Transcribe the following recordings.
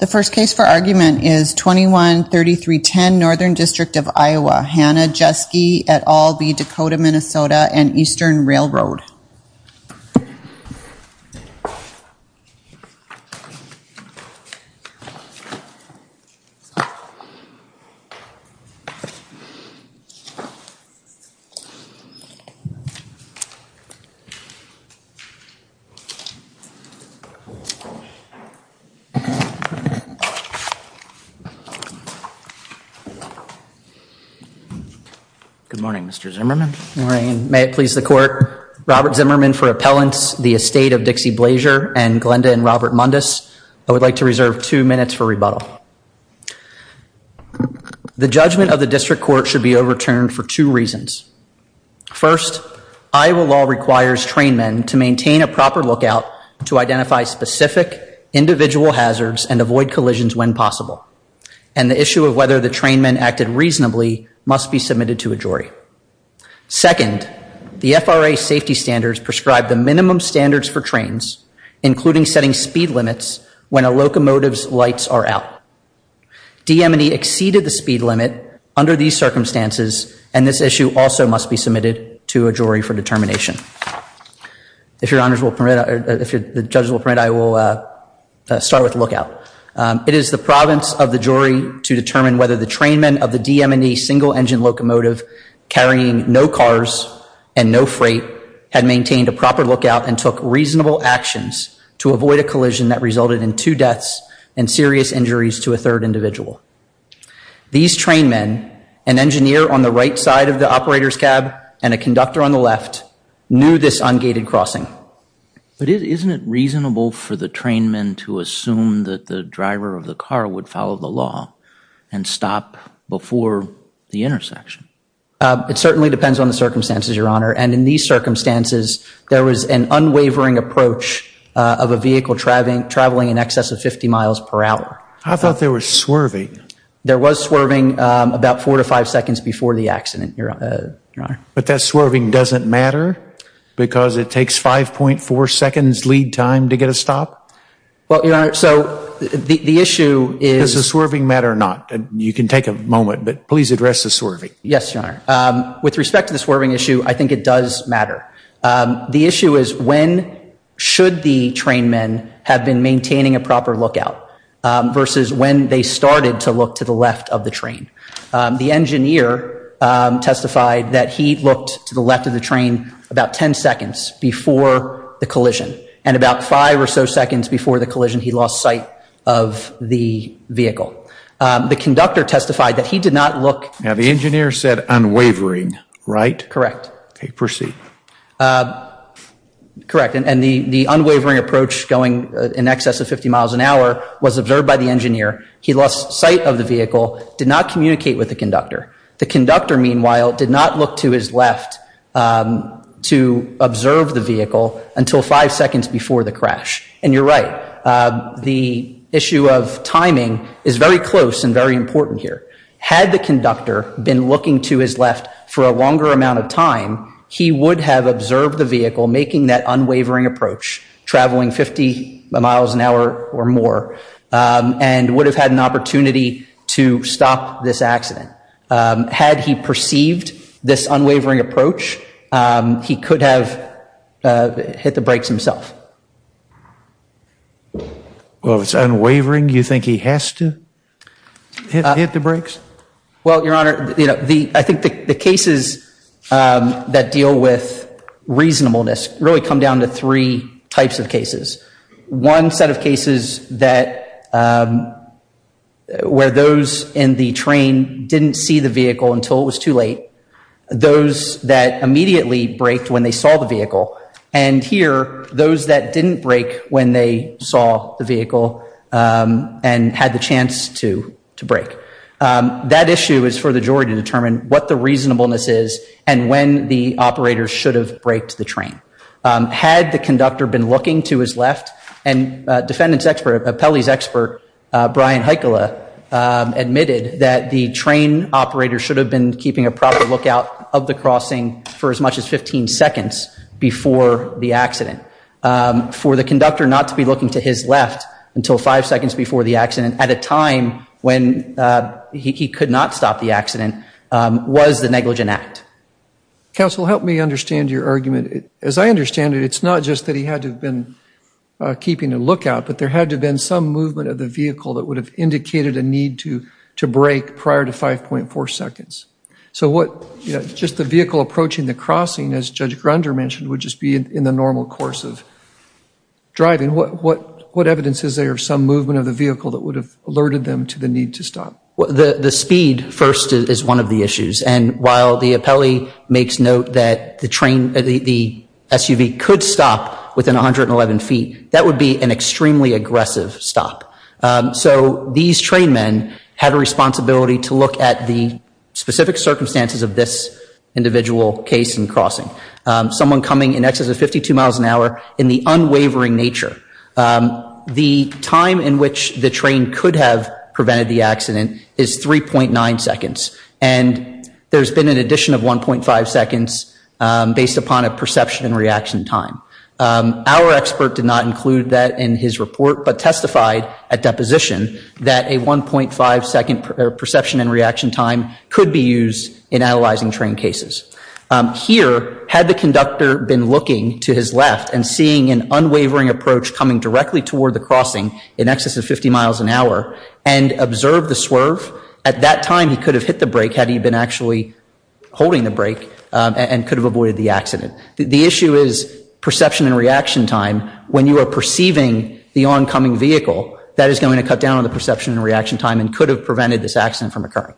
The first case for argument is 21-3310 Northern District of Iowa, Hannah Jesski et al v. Dakota, MN & Eastern RR Good morning, Mr. Zimmerman. May it please the court, Robert Zimmerman for appellants, the estate of Dixie Blazier and Glenda and Robert Mundus, I would like to reserve two minutes for rebuttal. The judgment of the district court should be overturned for two reasons. First, Iowa law requires train men to maintain a proper lookout to identify specific individual hazards and avoid collisions when possible, and the issue of whether the train men acted reasonably must be submitted to a jury. Second, the FRA safety standards prescribe the minimum standards for trains, including setting speed limits when a locomotive's lights are out. DM&E exceeded the speed limit under these circumstances, and this issue also must be submitted to a jury for determination. If the judges will permit, I will start with lookout. It is the province of the jury to determine whether the train men of the DM&E single engine locomotive carrying no cars and no freight had maintained a proper lookout and took reasonable actions to avoid a collision that resulted in two deaths and serious injuries to a third individual. These train men, an engineer on the right side of the operator's cab and a conductor on the left, knew this ungated crossing. But isn't it reasonable for the train men to assume that the driver of the car would follow the law and stop before the intersection? It certainly depends on the circumstances, Your Honor, and in these circumstances, there was an unwavering approach of a vehicle traveling in excess of 50 miles per hour. I thought there was swerving. There was swerving about four to five seconds before the accident, Your Honor. But that swerving doesn't matter because it takes 5.4 seconds lead time to get a stop? Well, Your Honor, so the issue is... Does the swerving matter or not? You can take a moment, but please address the swerving. Yes, Your Honor. With respect to the swerving issue, I think it does matter. The issue is when should the train men have been maintaining a proper lookout versus when they started to look to the left of the train. The engineer testified that he looked to the left of the train about 10 seconds before the collision and about five or so seconds before the collision, he lost sight of the vehicle. The conductor testified that he did not look... Now, the engineer said unwavering, right? Correct. Okay, proceed. Correct, and the unwavering approach going in excess of 50 miles an hour was observed by the engineer. He lost sight of the vehicle, did not communicate with the conductor. The conductor, meanwhile, did not look to his left to observe the vehicle until five seconds before the crash. And you're right. The issue of timing is very close and very important here. Had the conductor been looking to his left for a longer amount of time, he would have observed the vehicle making that unwavering approach, traveling 50 miles an hour or more, and would have had an opportunity to stop this accident. Had he perceived this unwavering approach, he could have hit the brakes himself. Well, if it's unwavering, you think he has to hit the brakes? Well, Your Honor, I think the cases that deal with reasonableness really come down to three types of cases. One set of cases where those in the train didn't see the vehicle until it was too late, those that immediately braked when they saw the vehicle, and here, those that didn't brake when they saw the vehicle and had the chance to brake. That issue is for the jury to determine what the reasonableness is and when the operator should have braked the train. Had the conductor been looking to his left, and defendant's expert, Pele's expert, Brian Heikkila, admitted that the train operator should have been keeping a proper lookout of the crossing for as much as 15 seconds before the accident. For the conductor not to be looking to his left until five seconds before the accident at a time when he could not stop the accident was the negligent act. Counsel, help me understand your argument. As I understand it, it's not just that he had to have been keeping a lookout, but there had to have been some movement of the vehicle that would have indicated a need to brake prior to 5.4 seconds. So just the vehicle approaching the crossing, as Judge Grunder mentioned, would just be in the normal course of driving. What evidence is there of some movement of the vehicle that would have alerted them to the need to stop? The speed first is one of the issues. And while the appellee makes note that the SUV could stop within 111 feet, that would be an extremely aggressive stop. So these train men had a responsibility to look at the specific circumstances of this individual case and crossing. Someone coming in excess of 52 miles an hour in the unwavering nature. The time in which the train could have prevented the accident is 3.9 seconds. And there's been an addition of 1.5 seconds based upon a perception and reaction time. Our expert did not include that in his report, but testified at deposition that a 1.5 second perception and reaction time could be used in analyzing train cases. Here, had the conductor been looking to his left and seeing an unwavering approach coming directly toward the crossing in excess of 50 miles an hour, and observed the swerve, at that time he could have hit the brake had he been actually holding the brake and could have avoided the accident. The issue is perception and reaction time. When you are perceiving the oncoming vehicle, that is going to cut down on the perception and reaction time and could have prevented this accident from occurring.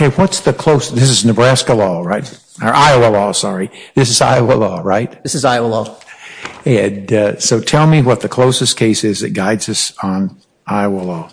Okay, what's the closest, this is Nebraska law, right? Or Iowa law, sorry. This is Iowa law, right? This is Iowa law. So tell me what the closest case is that guides us on Iowa law.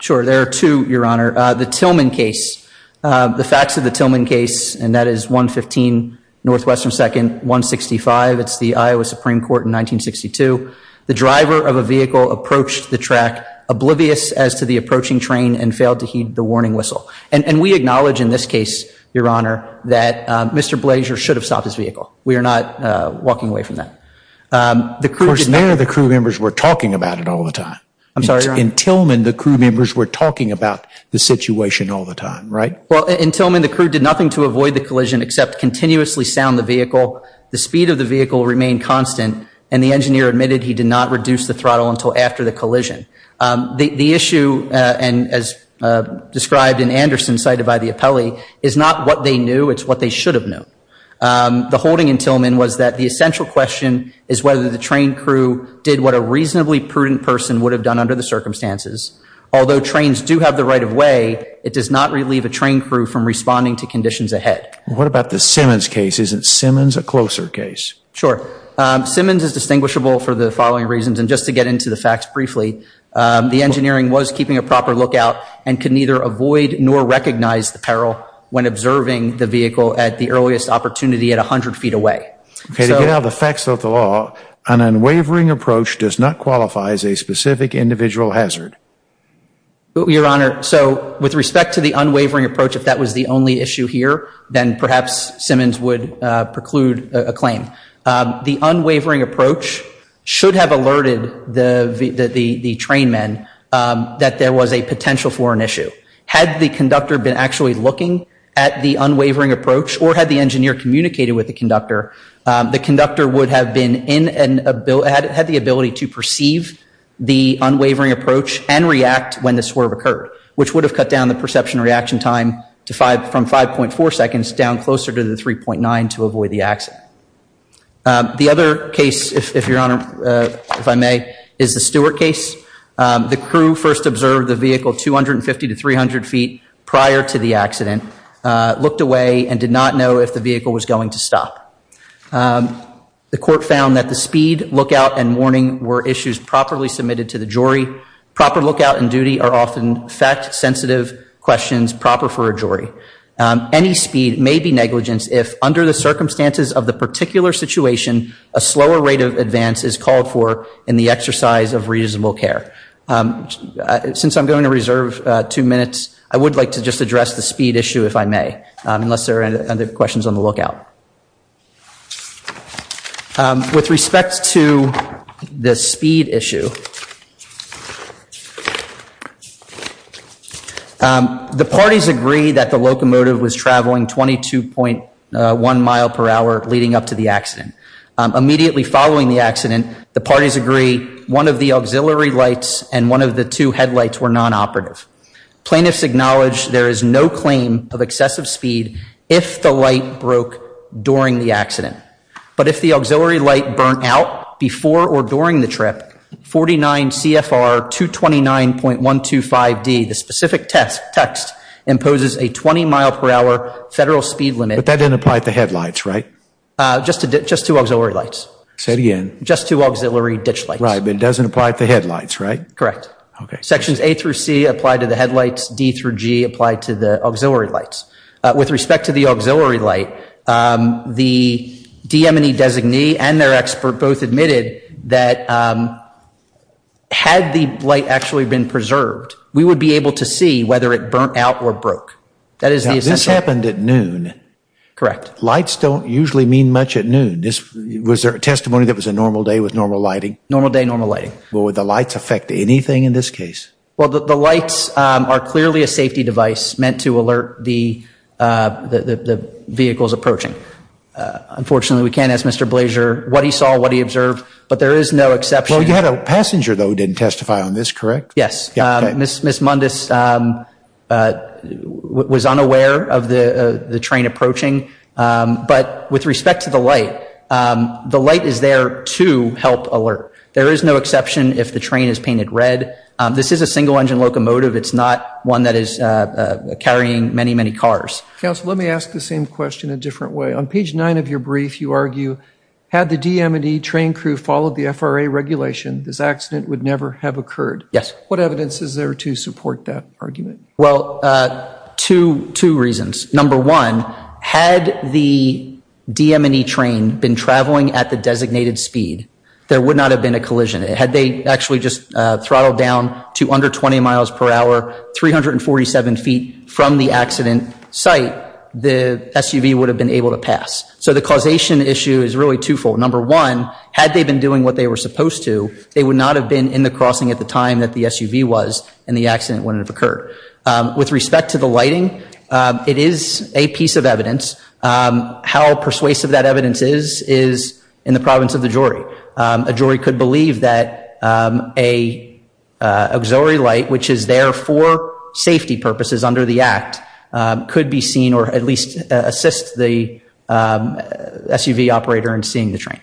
Sure, there are two, your honor. The Tillman case. The facts of the Tillman case, and that is 115 Northwestern 2nd, 165, it's the Iowa Supreme Court in 1962. The driver of a vehicle approached the track oblivious as to the approaching train and failed to heed the warning whistle. And we acknowledge in this case, your honor, that Mr. Blaser should have stopped his vehicle. We are not walking away from that. Of course, there the crew members were talking about it all the time. I'm sorry, your honor. In Tillman, the crew members were talking about the situation all the time, right? Well, in Tillman, the crew did nothing to avoid the collision except continuously sound the vehicle. The speed of the vehicle remained constant, and the engineer admitted he did not reduce the throttle until after the collision. The issue, and as described in Anderson cited by the appellee, is not what they knew, it's what they should have known. The holding in Tillman was that the essential question is whether the train crew did what a reasonably prudent person would have done under the circumstances. Although trains do have the right of way, it does not relieve a train crew from responding to conditions ahead. What about the Simmons case? Isn't Simmons a closer case? Sure. Simmons is distinguishable for the following reasons, and just to get into the facts briefly, the engineering was keeping a proper lookout and could neither avoid nor recognize the peril when observing the vehicle at the earliest opportunity at 100 feet away. To get out the facts of the law, an unwavering approach does not qualify as a specific individual hazard. Your honor, so with respect to the unwavering approach, if that was the only issue here, then perhaps Simmons would preclude a claim. The unwavering approach should have alerted the train men that there was a potential for an issue. Had the conductor been actually looking at the unwavering approach or had the engineer communicated with the conductor, the conductor would have had the ability to perceive the unwavering approach and react when the swerve occurred, which would have cut down the perception reaction time from 5.4 seconds down closer to the 3.9 to avoid the accident. The other case, if your honor, if I may, is the Stewart case. The crew first observed the vehicle 250 to 300 feet prior to the accident, looked away, and did not know if the vehicle was going to stop. The court found that the speed, lookout, and warning were issues properly submitted to the jury. Proper lookout and duty are often fact-sensitive questions proper for a jury. Any speed may be negligence if, under the circumstances of the particular situation, a slower rate of advance is called for in the exercise of reasonable care. Since I'm going to reserve two minutes, I would like to just address the speed issue, if I may, unless there are other questions on the lookout. With respect to the speed issue, the parties agree that the locomotive was traveling 22.1 mile per hour leading up to the accident. Immediately following the accident, the parties agree one of the auxiliary lights and one of the two headlights were non-operative. Plaintiffs acknowledge there is no claim of excessive speed if the light broke during the accident. But if the auxiliary light burnt out before or during the trip, 49 CFR 229.125D, the specific text, imposes a 20 mile per hour federal speed limit. But that didn't apply to the headlights, right? Just to auxiliary lights. Say it again. Just to auxiliary ditch lights. Right, but it doesn't apply to the headlights, right? Correct. Sections A through C apply to the headlights, D through G apply to the auxiliary lights. With respect to the auxiliary light, the DM&E designee and their expert both admitted that had the light actually been preserved, we would be able to see whether it burnt out or broke. This happened at noon. Correct. Lights don't usually mean much at noon. Was there a testimony that it was a normal day with normal lighting? Normal day, normal lighting. Would the lights affect anything in this case? Well, the lights are clearly a safety device meant to alert the vehicles approaching. Unfortunately, we can't ask Mr. Blazier what he saw, what he observed, but there is no exception. Well, you had a passenger, though, who didn't testify on this, correct? Yes. Ms. Mundus was unaware of the train approaching. But with respect to the light, the light is there to help alert. There is no exception if the train is painted red. This is a single-engine locomotive. It's not one that is carrying many, many cars. Counsel, let me ask the same question a different way. On page 9 of your brief, you argue, had the DM&E train crew followed the FRA regulation, this accident would never have occurred. Yes. What evidence is there to support that argument? Well, two reasons. Number one, had the DM&E train been traveling at the designated speed, there would not have been a collision. Had they actually just throttled down to under 20 miles per hour, 347 feet from the accident site, the SUV would have been able to pass. So the causation issue is really twofold. Number one, had they been doing what they were supposed to, they would not have been in the crossing at the time that the SUV was, and the accident wouldn't have occurred. With respect to the lighting, it is a piece of evidence. How persuasive that evidence is is in the province of the jury. A jury could believe that an auxiliary light, which is there for safety purposes under the act, could be seen or at least assist the SUV operator in seeing the train.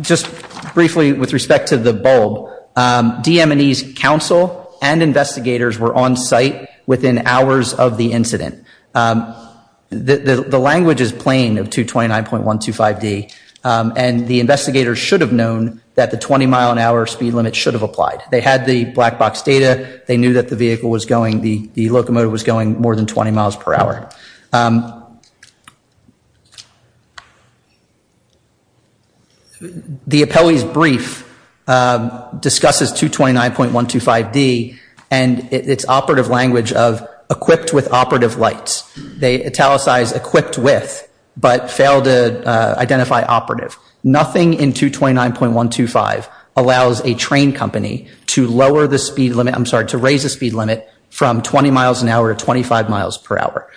Just briefly with respect to the bulb, DM&E's counsel and investigators were on site within hours of the incident. The language is plain of 229.125D, and the investigators should have known that the 20 mile an hour speed limit should have applied. They had the black box data. They knew that the vehicle was going, the locomotive was going more than 20 miles per hour. The appellee's brief discusses 229.125D and its operative language of equipped with operative lights. They italicize equipped with but fail to identify operative. Nothing in 229.125 allows a train company to lower the speed limit, I'm sorry, to raise the speed limit from 20 miles an hour to 25 miles per hour.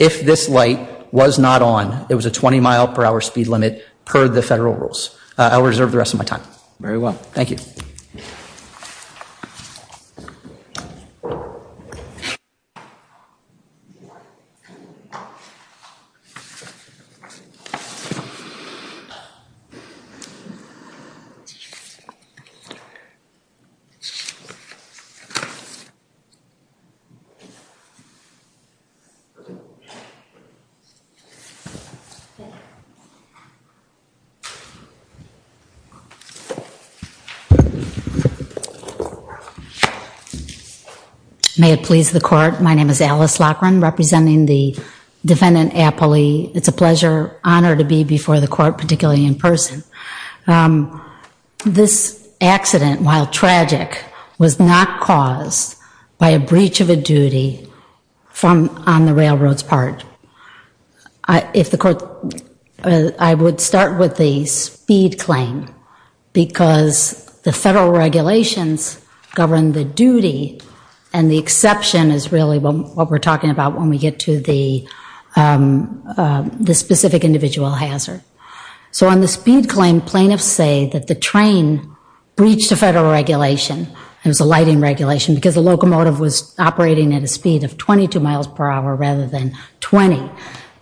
If this light was not on, it was a 20 mile per hour speed limit per the federal rules. I'll reserve the rest of my time. Very well, thank you. Thank you. May it please the court, my name is Alice Loughran, representing the defendant appellee. It's a pleasure, honor to be before the court, particularly in person. This accident, while tragic, was not caused by a breach of a duty on the railroad's part. I would start with the speed claim, because the federal regulations govern the duty, and the exception is really what we're talking about when we get to the specific individual hazard. So on the speed claim, plaintiffs say that the train breached a federal regulation. It was a lighting regulation, because the locomotive was operating at a speed of 22 miles per hour rather than 20.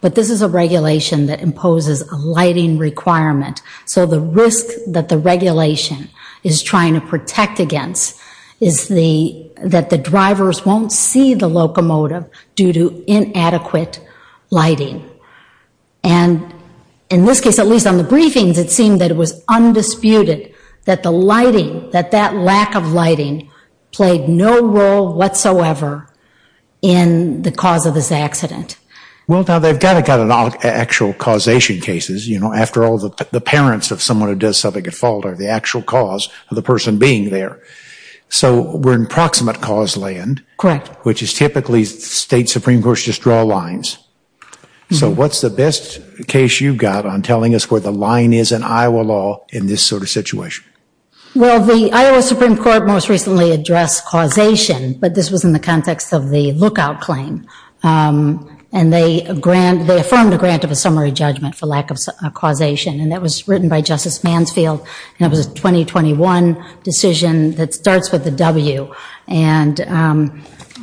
But this is a regulation that imposes a lighting requirement. So the risk that the regulation is trying to protect against is that the drivers won't see the locomotive due to inadequate lighting. And in this case, at least on the briefings, it seemed that it was undisputed that the lighting, that that lack of lighting played no role whatsoever in the cause of this accident. Well, now, they've got to have actual causation cases. You know, after all, the parents of someone who does something at fault are the actual cause of the person being there. So we're in proximate cause land. Correct. Which is typically State Supreme Courts just draw lines. So what's the best case you've got on telling us where the line is in Iowa law in this sort of situation? Well, the Iowa Supreme Court most recently addressed causation, but this was in the context of the lookout claim. And they grant, they affirmed a grant of a summary judgment for lack of causation, and that was written by Justice Mansfield, and it was a 2021 decision that starts with a W. And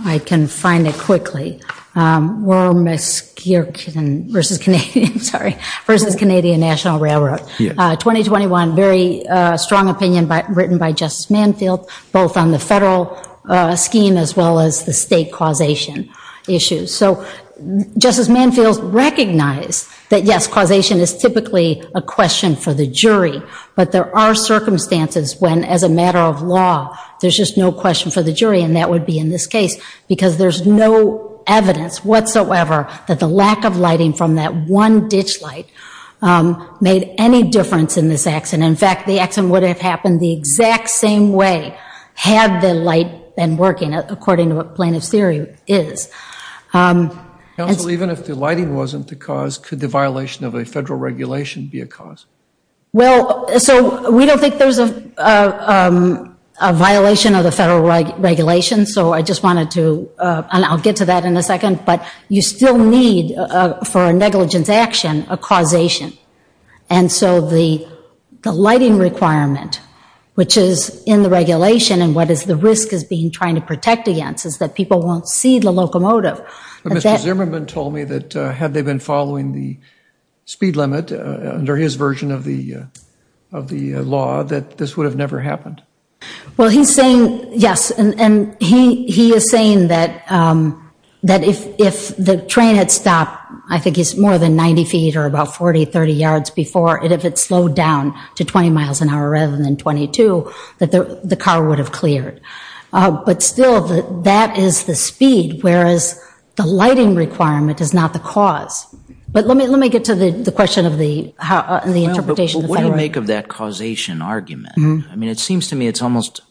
I can find it quickly. Wormisk versus Canadian, sorry, versus Canadian National Railroad. 2021, very strong opinion written by Justice Mansfield, both on the federal scheme as well as the state causation issues. So Justice Mansfield recognized that, yes, causation is typically a question for the jury, but there are circumstances when, as a matter of law, there's just no question for the jury, and that would be in this case because there's no evidence whatsoever that the lack of lighting from that one ditch light made any difference in this accident. In fact, the accident would have happened the exact same way had the light been working, according to what plaintiff's theory is. Counsel, even if the lighting wasn't the cause, could the violation of a federal regulation be a cause? Well, so we don't think there's a violation of the federal regulation, so I just wanted to, and I'll get to that in a second, but you still need, for a negligence action, a causation. And so the lighting requirement, which is in the regulation and what the risk is being trying to protect against is that people won't see the locomotive. But Mr. Zimmerman told me that had they been following the speed limit under his version of the law, that this would have never happened. Well, he's saying, yes, and he is saying that if the train had stopped, I think it's more than 90 feet or about 40, 30 yards before, and if it slowed down to 20 miles an hour rather than 22, that the car would have cleared. But still, that is the speed, whereas the lighting requirement is not the cause. But let me get to the question of the interpretation. Well, but what do you make of that causation argument? I mean, it seems to me it's almost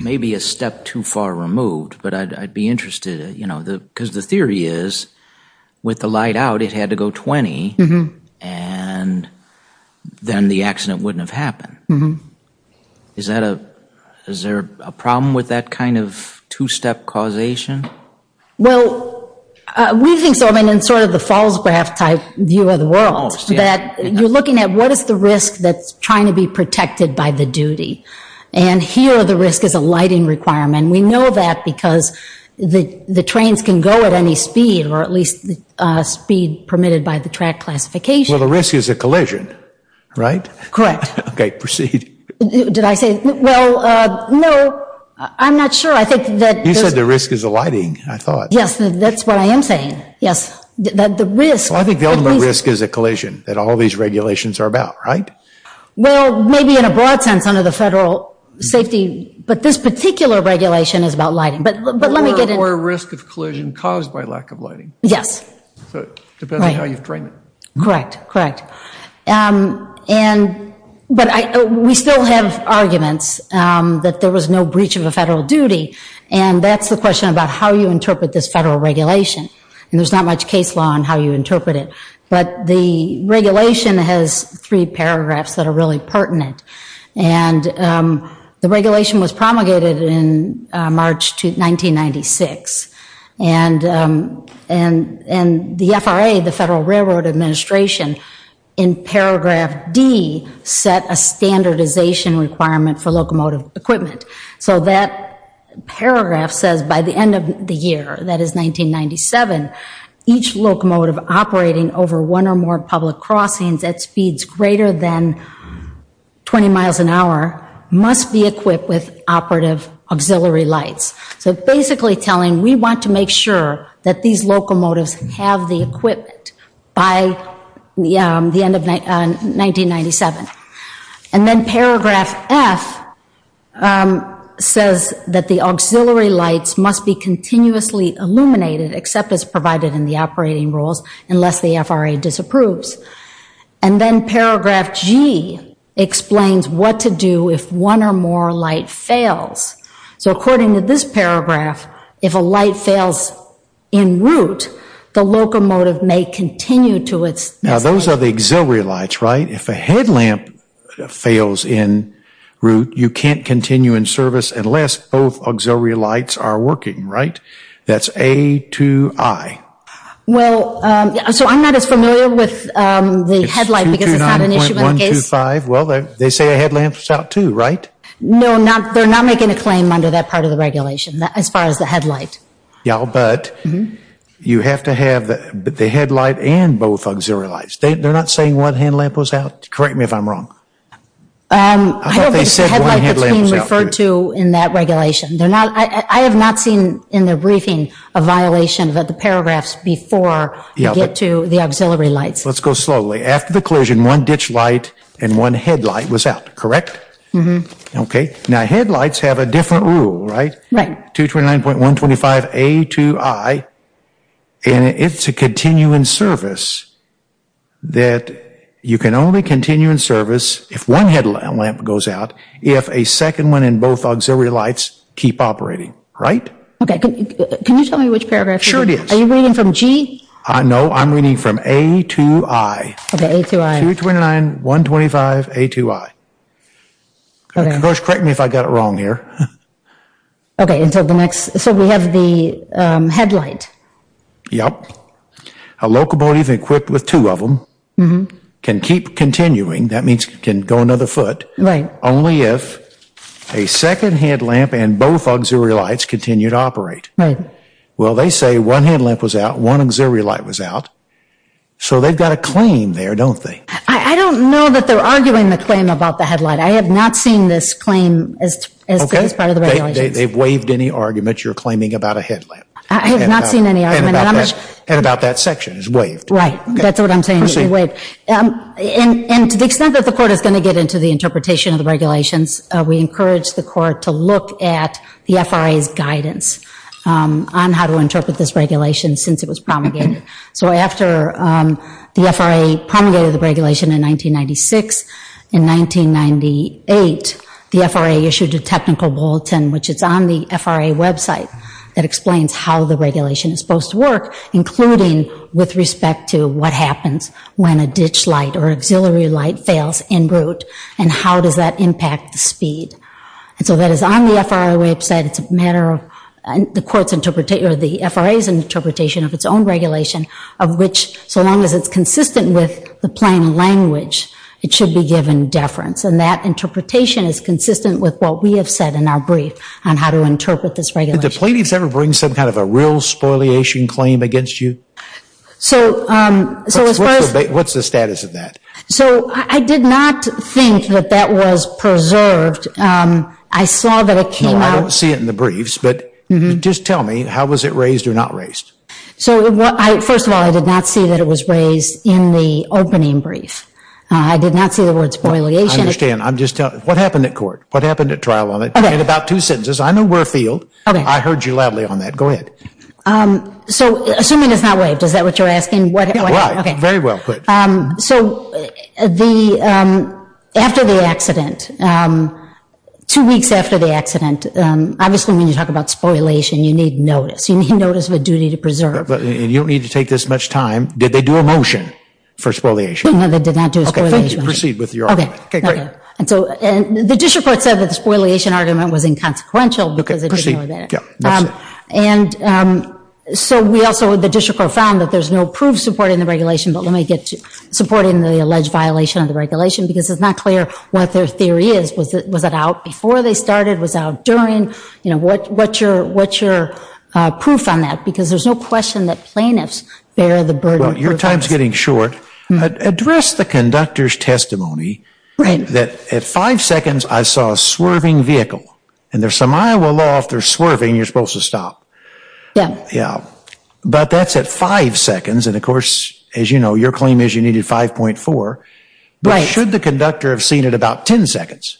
maybe a step too far removed, but I'd be interested, you know, because the theory is with the light out, it had to go 20, and then the accident wouldn't have happened. Is there a problem with that kind of two-step causation? Well, we think so. I mean, in sort of the Falls Graph type view of the world, that you're looking at what is the risk that's trying to be protected by the duty. And here, the risk is a lighting requirement. We know that because the trains can go at any speed, or at least speed permitted by the track classification. Well, the risk is a collision, right? Correct. Okay, proceed. Did I say? Well, no, I'm not sure. You said the risk is the lighting, I thought. Yes, that's what I am saying. Yes. I think the only risk is a collision that all these regulations are about, right? Well, maybe in a broad sense under the federal safety, but this particular regulation is about lighting. Or risk of collision caused by lack of lighting. Yes. Depending on how you frame it. Correct, correct. But we still have arguments that there was no breach of a federal duty. And that's the question about how you interpret this federal regulation. And there's not much case law on how you interpret it. But the regulation has three paragraphs that are really pertinent. And the regulation was promulgated in March 1996. And the FRA, the Federal Railroad Administration, in paragraph D, set a standardization requirement for locomotive equipment. So that paragraph says by the end of the year, that is 1997, each locomotive operating over one or more public crossings at speeds greater than 20 miles an hour must be equipped with operative auxiliary lights. So basically telling we want to make sure that these locomotives have the equipment by the end of 1997. And then paragraph F says that the auxiliary lights must be continuously illuminated, except as provided in the operating rules, unless the FRA disapproves. And then paragraph G explains what to do if one or more light fails. So according to this paragraph, if a light fails in route, the locomotive may continue to its destination. Now those are the auxiliary lights, right? If a headlamp fails in route, you can't continue in service unless both auxiliary lights are working, right? That's A to I. Well, so I'm not as familiar with the headlight because it's not an issue in the case. It's 229.125. Well, they say a headlamp's out too, right? No, they're not making a claim under that part of the regulation as far as the headlight. Yeah, but you have to have the headlight and both auxiliary lights. They're not saying one headlamp was out? Correct me if I'm wrong. I don't think the headlight that's being referred to in that regulation. I have not seen in the briefing a violation of the paragraphs before you get to the auxiliary lights. Let's go slowly. After the collision, one ditch light and one headlight was out, correct? Mm-hmm. Okay, now headlights have a different rule, right? Right. 229.125 A to I, and it's a continuing service that you can only continue in service if one headlamp goes out, if a second one and both auxiliary lights keep operating, right? Okay, can you tell me which paragraph? Sure it is. Are you reading from G? No, I'm reading from A to I. Okay, A to I. 229.125 A to I. Okay. Coach, correct me if I got it wrong here. Okay, so we have the headlight. Yep. A locomotive equipped with two of them can keep continuing, that means it can go another foot. Right. Only if a second headlamp and both auxiliary lights continue to operate. Right. Well, they say one headlamp was out, one auxiliary light was out, so they've got a claim there, don't they? I don't know that they're arguing the claim about the headlight. I have not seen this claim as part of the regulations. Okay, they've waived any argument you're claiming about a headlamp. I have not seen any argument. And about that section is waived. Right, that's what I'm saying, is waived. And to the extent that the court is going to get into the interpretation of the regulations, we encourage the court to look at the FRA's guidance on how to interpret this regulation since it was promulgated. So after the FRA promulgated the regulation in 1996, in 1998 the FRA issued a technical bulletin, which is on the FRA website, that explains how the regulation is supposed to work, including with respect to what happens when a ditch light or auxiliary light fails en route and how does that impact the speed. And so that is on the FRA website. It's a matter of the FRA's interpretation of its own regulation, of which so long as it's consistent with the plain language, it should be given deference. And that interpretation is consistent with what we have said in our brief on how to interpret this regulation. Did the plaintiffs ever bring some kind of a real spoliation claim against you? What's the status of that? So I did not think that that was preserved. I saw that it came out. No, I don't see it in the briefs. But just tell me, how was it raised or not raised? So first of all, I did not see that it was raised in the opening brief. I did not see the word spoliation. I understand. What happened at court? What happened at trial? In about two sentences. I know we're afield. I heard you loudly on that. Go ahead. So assuming it's not waived, is that what you're asking? Right. Very well put. So after the accident, two weeks after the accident, obviously when you talk about spoliation, you need notice. You need notice of a duty to preserve. And you don't need to take this much time. Did they do a motion for spoliation? No, they did not do a spoliation. Okay, thank you. Proceed with your argument. Okay, great. And so the district court said that the spoliation argument was inconsequential because it didn't know that. Proceed. And so we also, the district court found that there's no proof supporting the regulation. But let me get to supporting the alleged violation of the regulation because it's not clear what their theory is. Was it out before they started? Was it out during? You know, what's your proof on that? Because there's no question that plaintiffs bear the burden. Well, your time's getting short. Address the conductor's testimony that at five seconds I saw a swerving vehicle. And there's some Iowa law if there's swerving, you're supposed to stop. Yeah. Yeah. But that's at five seconds. And, of course, as you know, your claim is you needed 5.4. Right. But should the conductor have seen it about 10 seconds?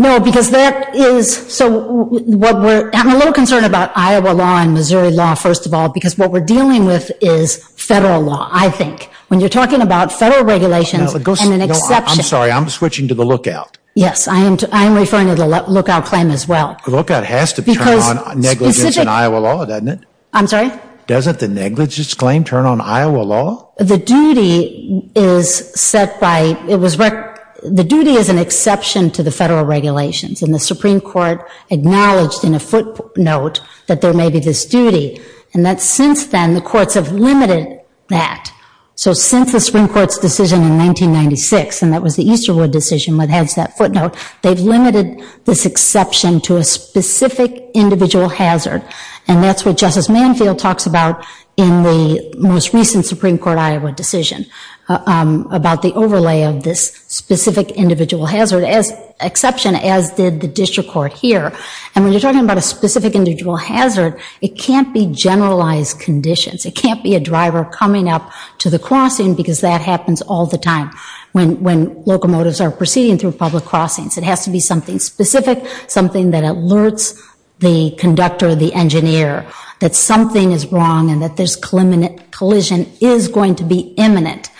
No, because that is, so what we're, I'm a little concerned about Iowa law and Missouri law, first of all, because what we're dealing with is federal law, I think. When you're talking about federal regulations and an exception. I'm sorry, I'm switching to the lookout. Yes, I am referring to the lookout claim as well. The lookout has to turn on negligence in Iowa law, doesn't it? I'm sorry? Doesn't the negligence claim turn on Iowa law? The duty is set by, it was, the duty is an exception to the federal regulations. And the Supreme Court acknowledged in a footnote that there may be this duty. And that since then, the courts have limited that. So since the Supreme Court's decision in 1996, and that was the Easterwood decision that has that footnote, they've limited this exception to a specific individual hazard. And that's what Justice Manfield talks about in the most recent Supreme Court Iowa decision. About the overlay of this specific individual hazard as exception, as did the district court here. And when you're talking about a specific individual hazard, it can't be generalized conditions. It can't be a driver coming up to the crossing, because that happens all the time. When locomotives are proceeding through public crossings. It has to be something specific, something that alerts the conductor, the engineer, that something is wrong and that this collision is going to be imminent.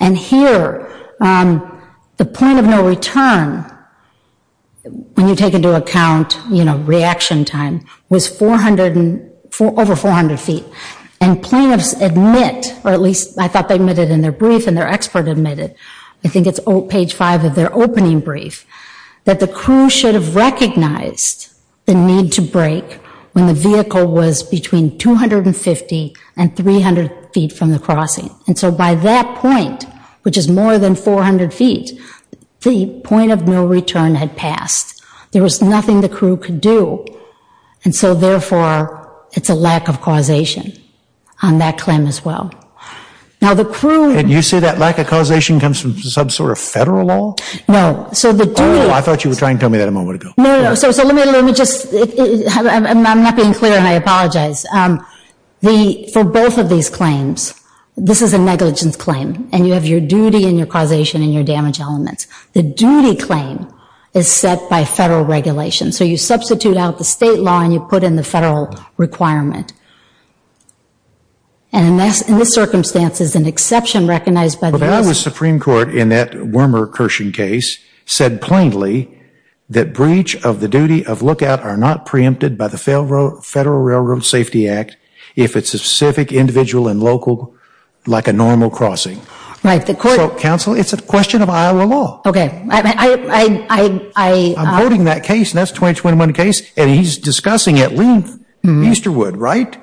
And here, the point of no return, when you take into account reaction time, was over 400 feet. And plaintiffs admit, or at least I thought they admitted in their brief, and their expert admitted, I think it's page five of their opening brief, that the crew should have recognized the need to brake when the vehicle was between 250 and 300 feet from the crossing. And so by that point, which is more than 400 feet, the point of no return had passed. There was nothing the crew could do. And so therefore, it's a lack of causation on that claim as well. Now the crew... And you say that lack of causation comes from some sort of federal law? No, so the duty... Oh, I thought you were trying to tell me that a moment ago. No, no, so let me just, I'm not being clear and I apologize. For both of these claims, this is a negligence claim. And you have your duty and your causation and your damage elements. The duty claim is set by federal regulation. So you substitute out the state law and you put in the federal requirement. And in this circumstance, it's an exception recognized by the U.S. But the Iowa Supreme Court, in that Wormer-Kirshen case, said plainly that breach of the duty of lookout are not preempted by the Federal Railroad Safety Act if it's a specific individual and local, like a normal crossing. Right, the court... Counsel, it's a question of Iowa law. Okay, I... I'm voting that case, and that's a 2021 case, and he's discussing at length Easterwood, right?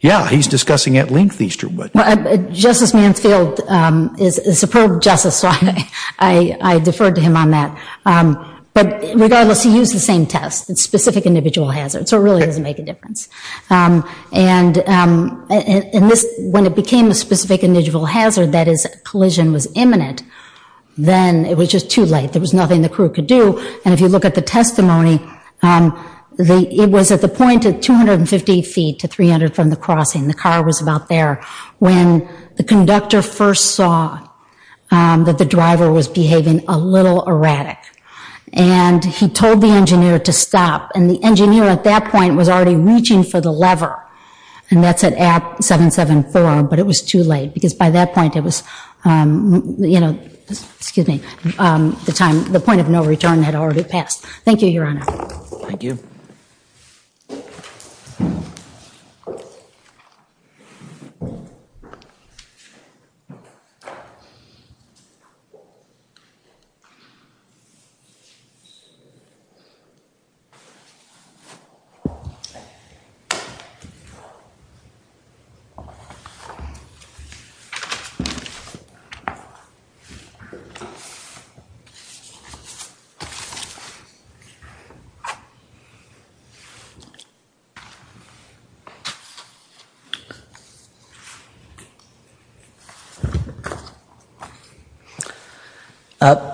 Yeah, he's discussing at length Easterwood. Justice Mansfield is a superb justice, so I defer to him on that. But regardless, he used the same test, specific individual hazard. So it really doesn't make a difference. And when it became a specific individual hazard, that is, collision was imminent, then it was just too late. There was nothing the crew could do. And if you look at the testimony, it was at the point at 250 feet to 300 from the crossing. The car was about there. When the conductor first saw that the driver was behaving a little erratic, and he told the engineer to stop. And the engineer at that point was already reaching for the lever, and that's at app 774, but it was too late. Because by that point, it was, you know, excuse me, the point of no return had already passed. Thank you, Your Honor. Thank you. Thank you.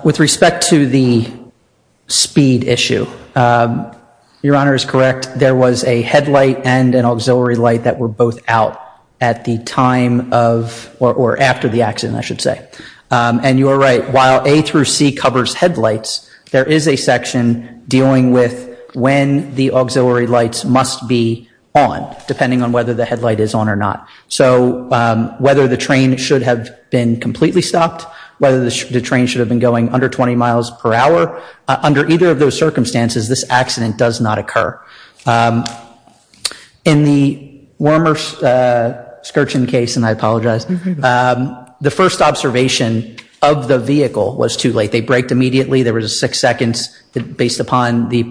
With respect to the speed issue, Your Honor is correct. There was a headlight and an auxiliary light that were both out at the time of, or after the accident, I should say. And you are right, while A through C covers headlights, there is a section dealing with when the auxiliary lights must be on, depending on whether the headlight is on or not. So whether the train should have been completely stopped, whether the train should have been going under 20 miles per hour, under either of those circumstances, this accident does not occur. In the Wormer-Skirchin case, and I apologize, the first observation of the vehicle was too late. They braked immediately. There was a six seconds based upon the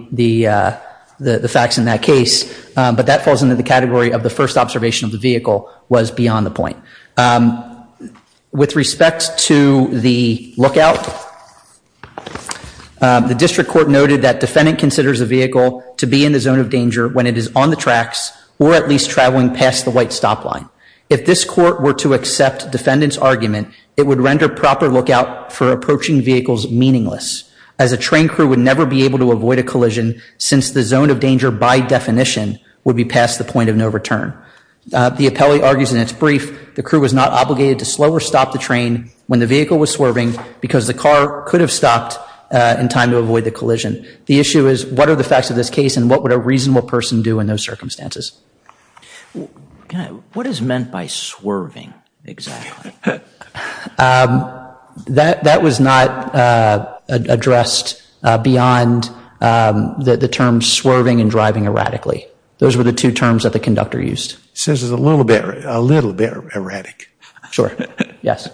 facts in that case. But that falls into the category of the first observation of the vehicle was beyond the point. With respect to the lookout, the district court noted that defendant considers the vehicle to be in the zone of danger when it is on the tracks or at least traveling past the white stop line. If this court were to accept defendant's argument, it would render proper lookout for approaching vehicles meaningless, as a train crew would never be able to avoid a collision since the zone of danger, by definition, would be past the point of no return. The appellee argues in its brief, the crew was not obligated to slow or stop the train when the vehicle was swerving because the car could have stopped in time to avoid the collision. The issue is what are the facts of this case and what would a reasonable person do in those circumstances? What is meant by swerving exactly? That was not addressed beyond the term swerving and driving erratically. Those were the two terms that the conductor used. He says it's a little bit erratic. Sure. Yes.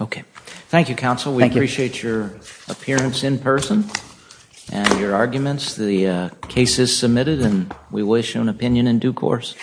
Okay. Thank you, counsel. We appreciate your appearance in person and your arguments. The case is submitted and we wish you an opinion in due course.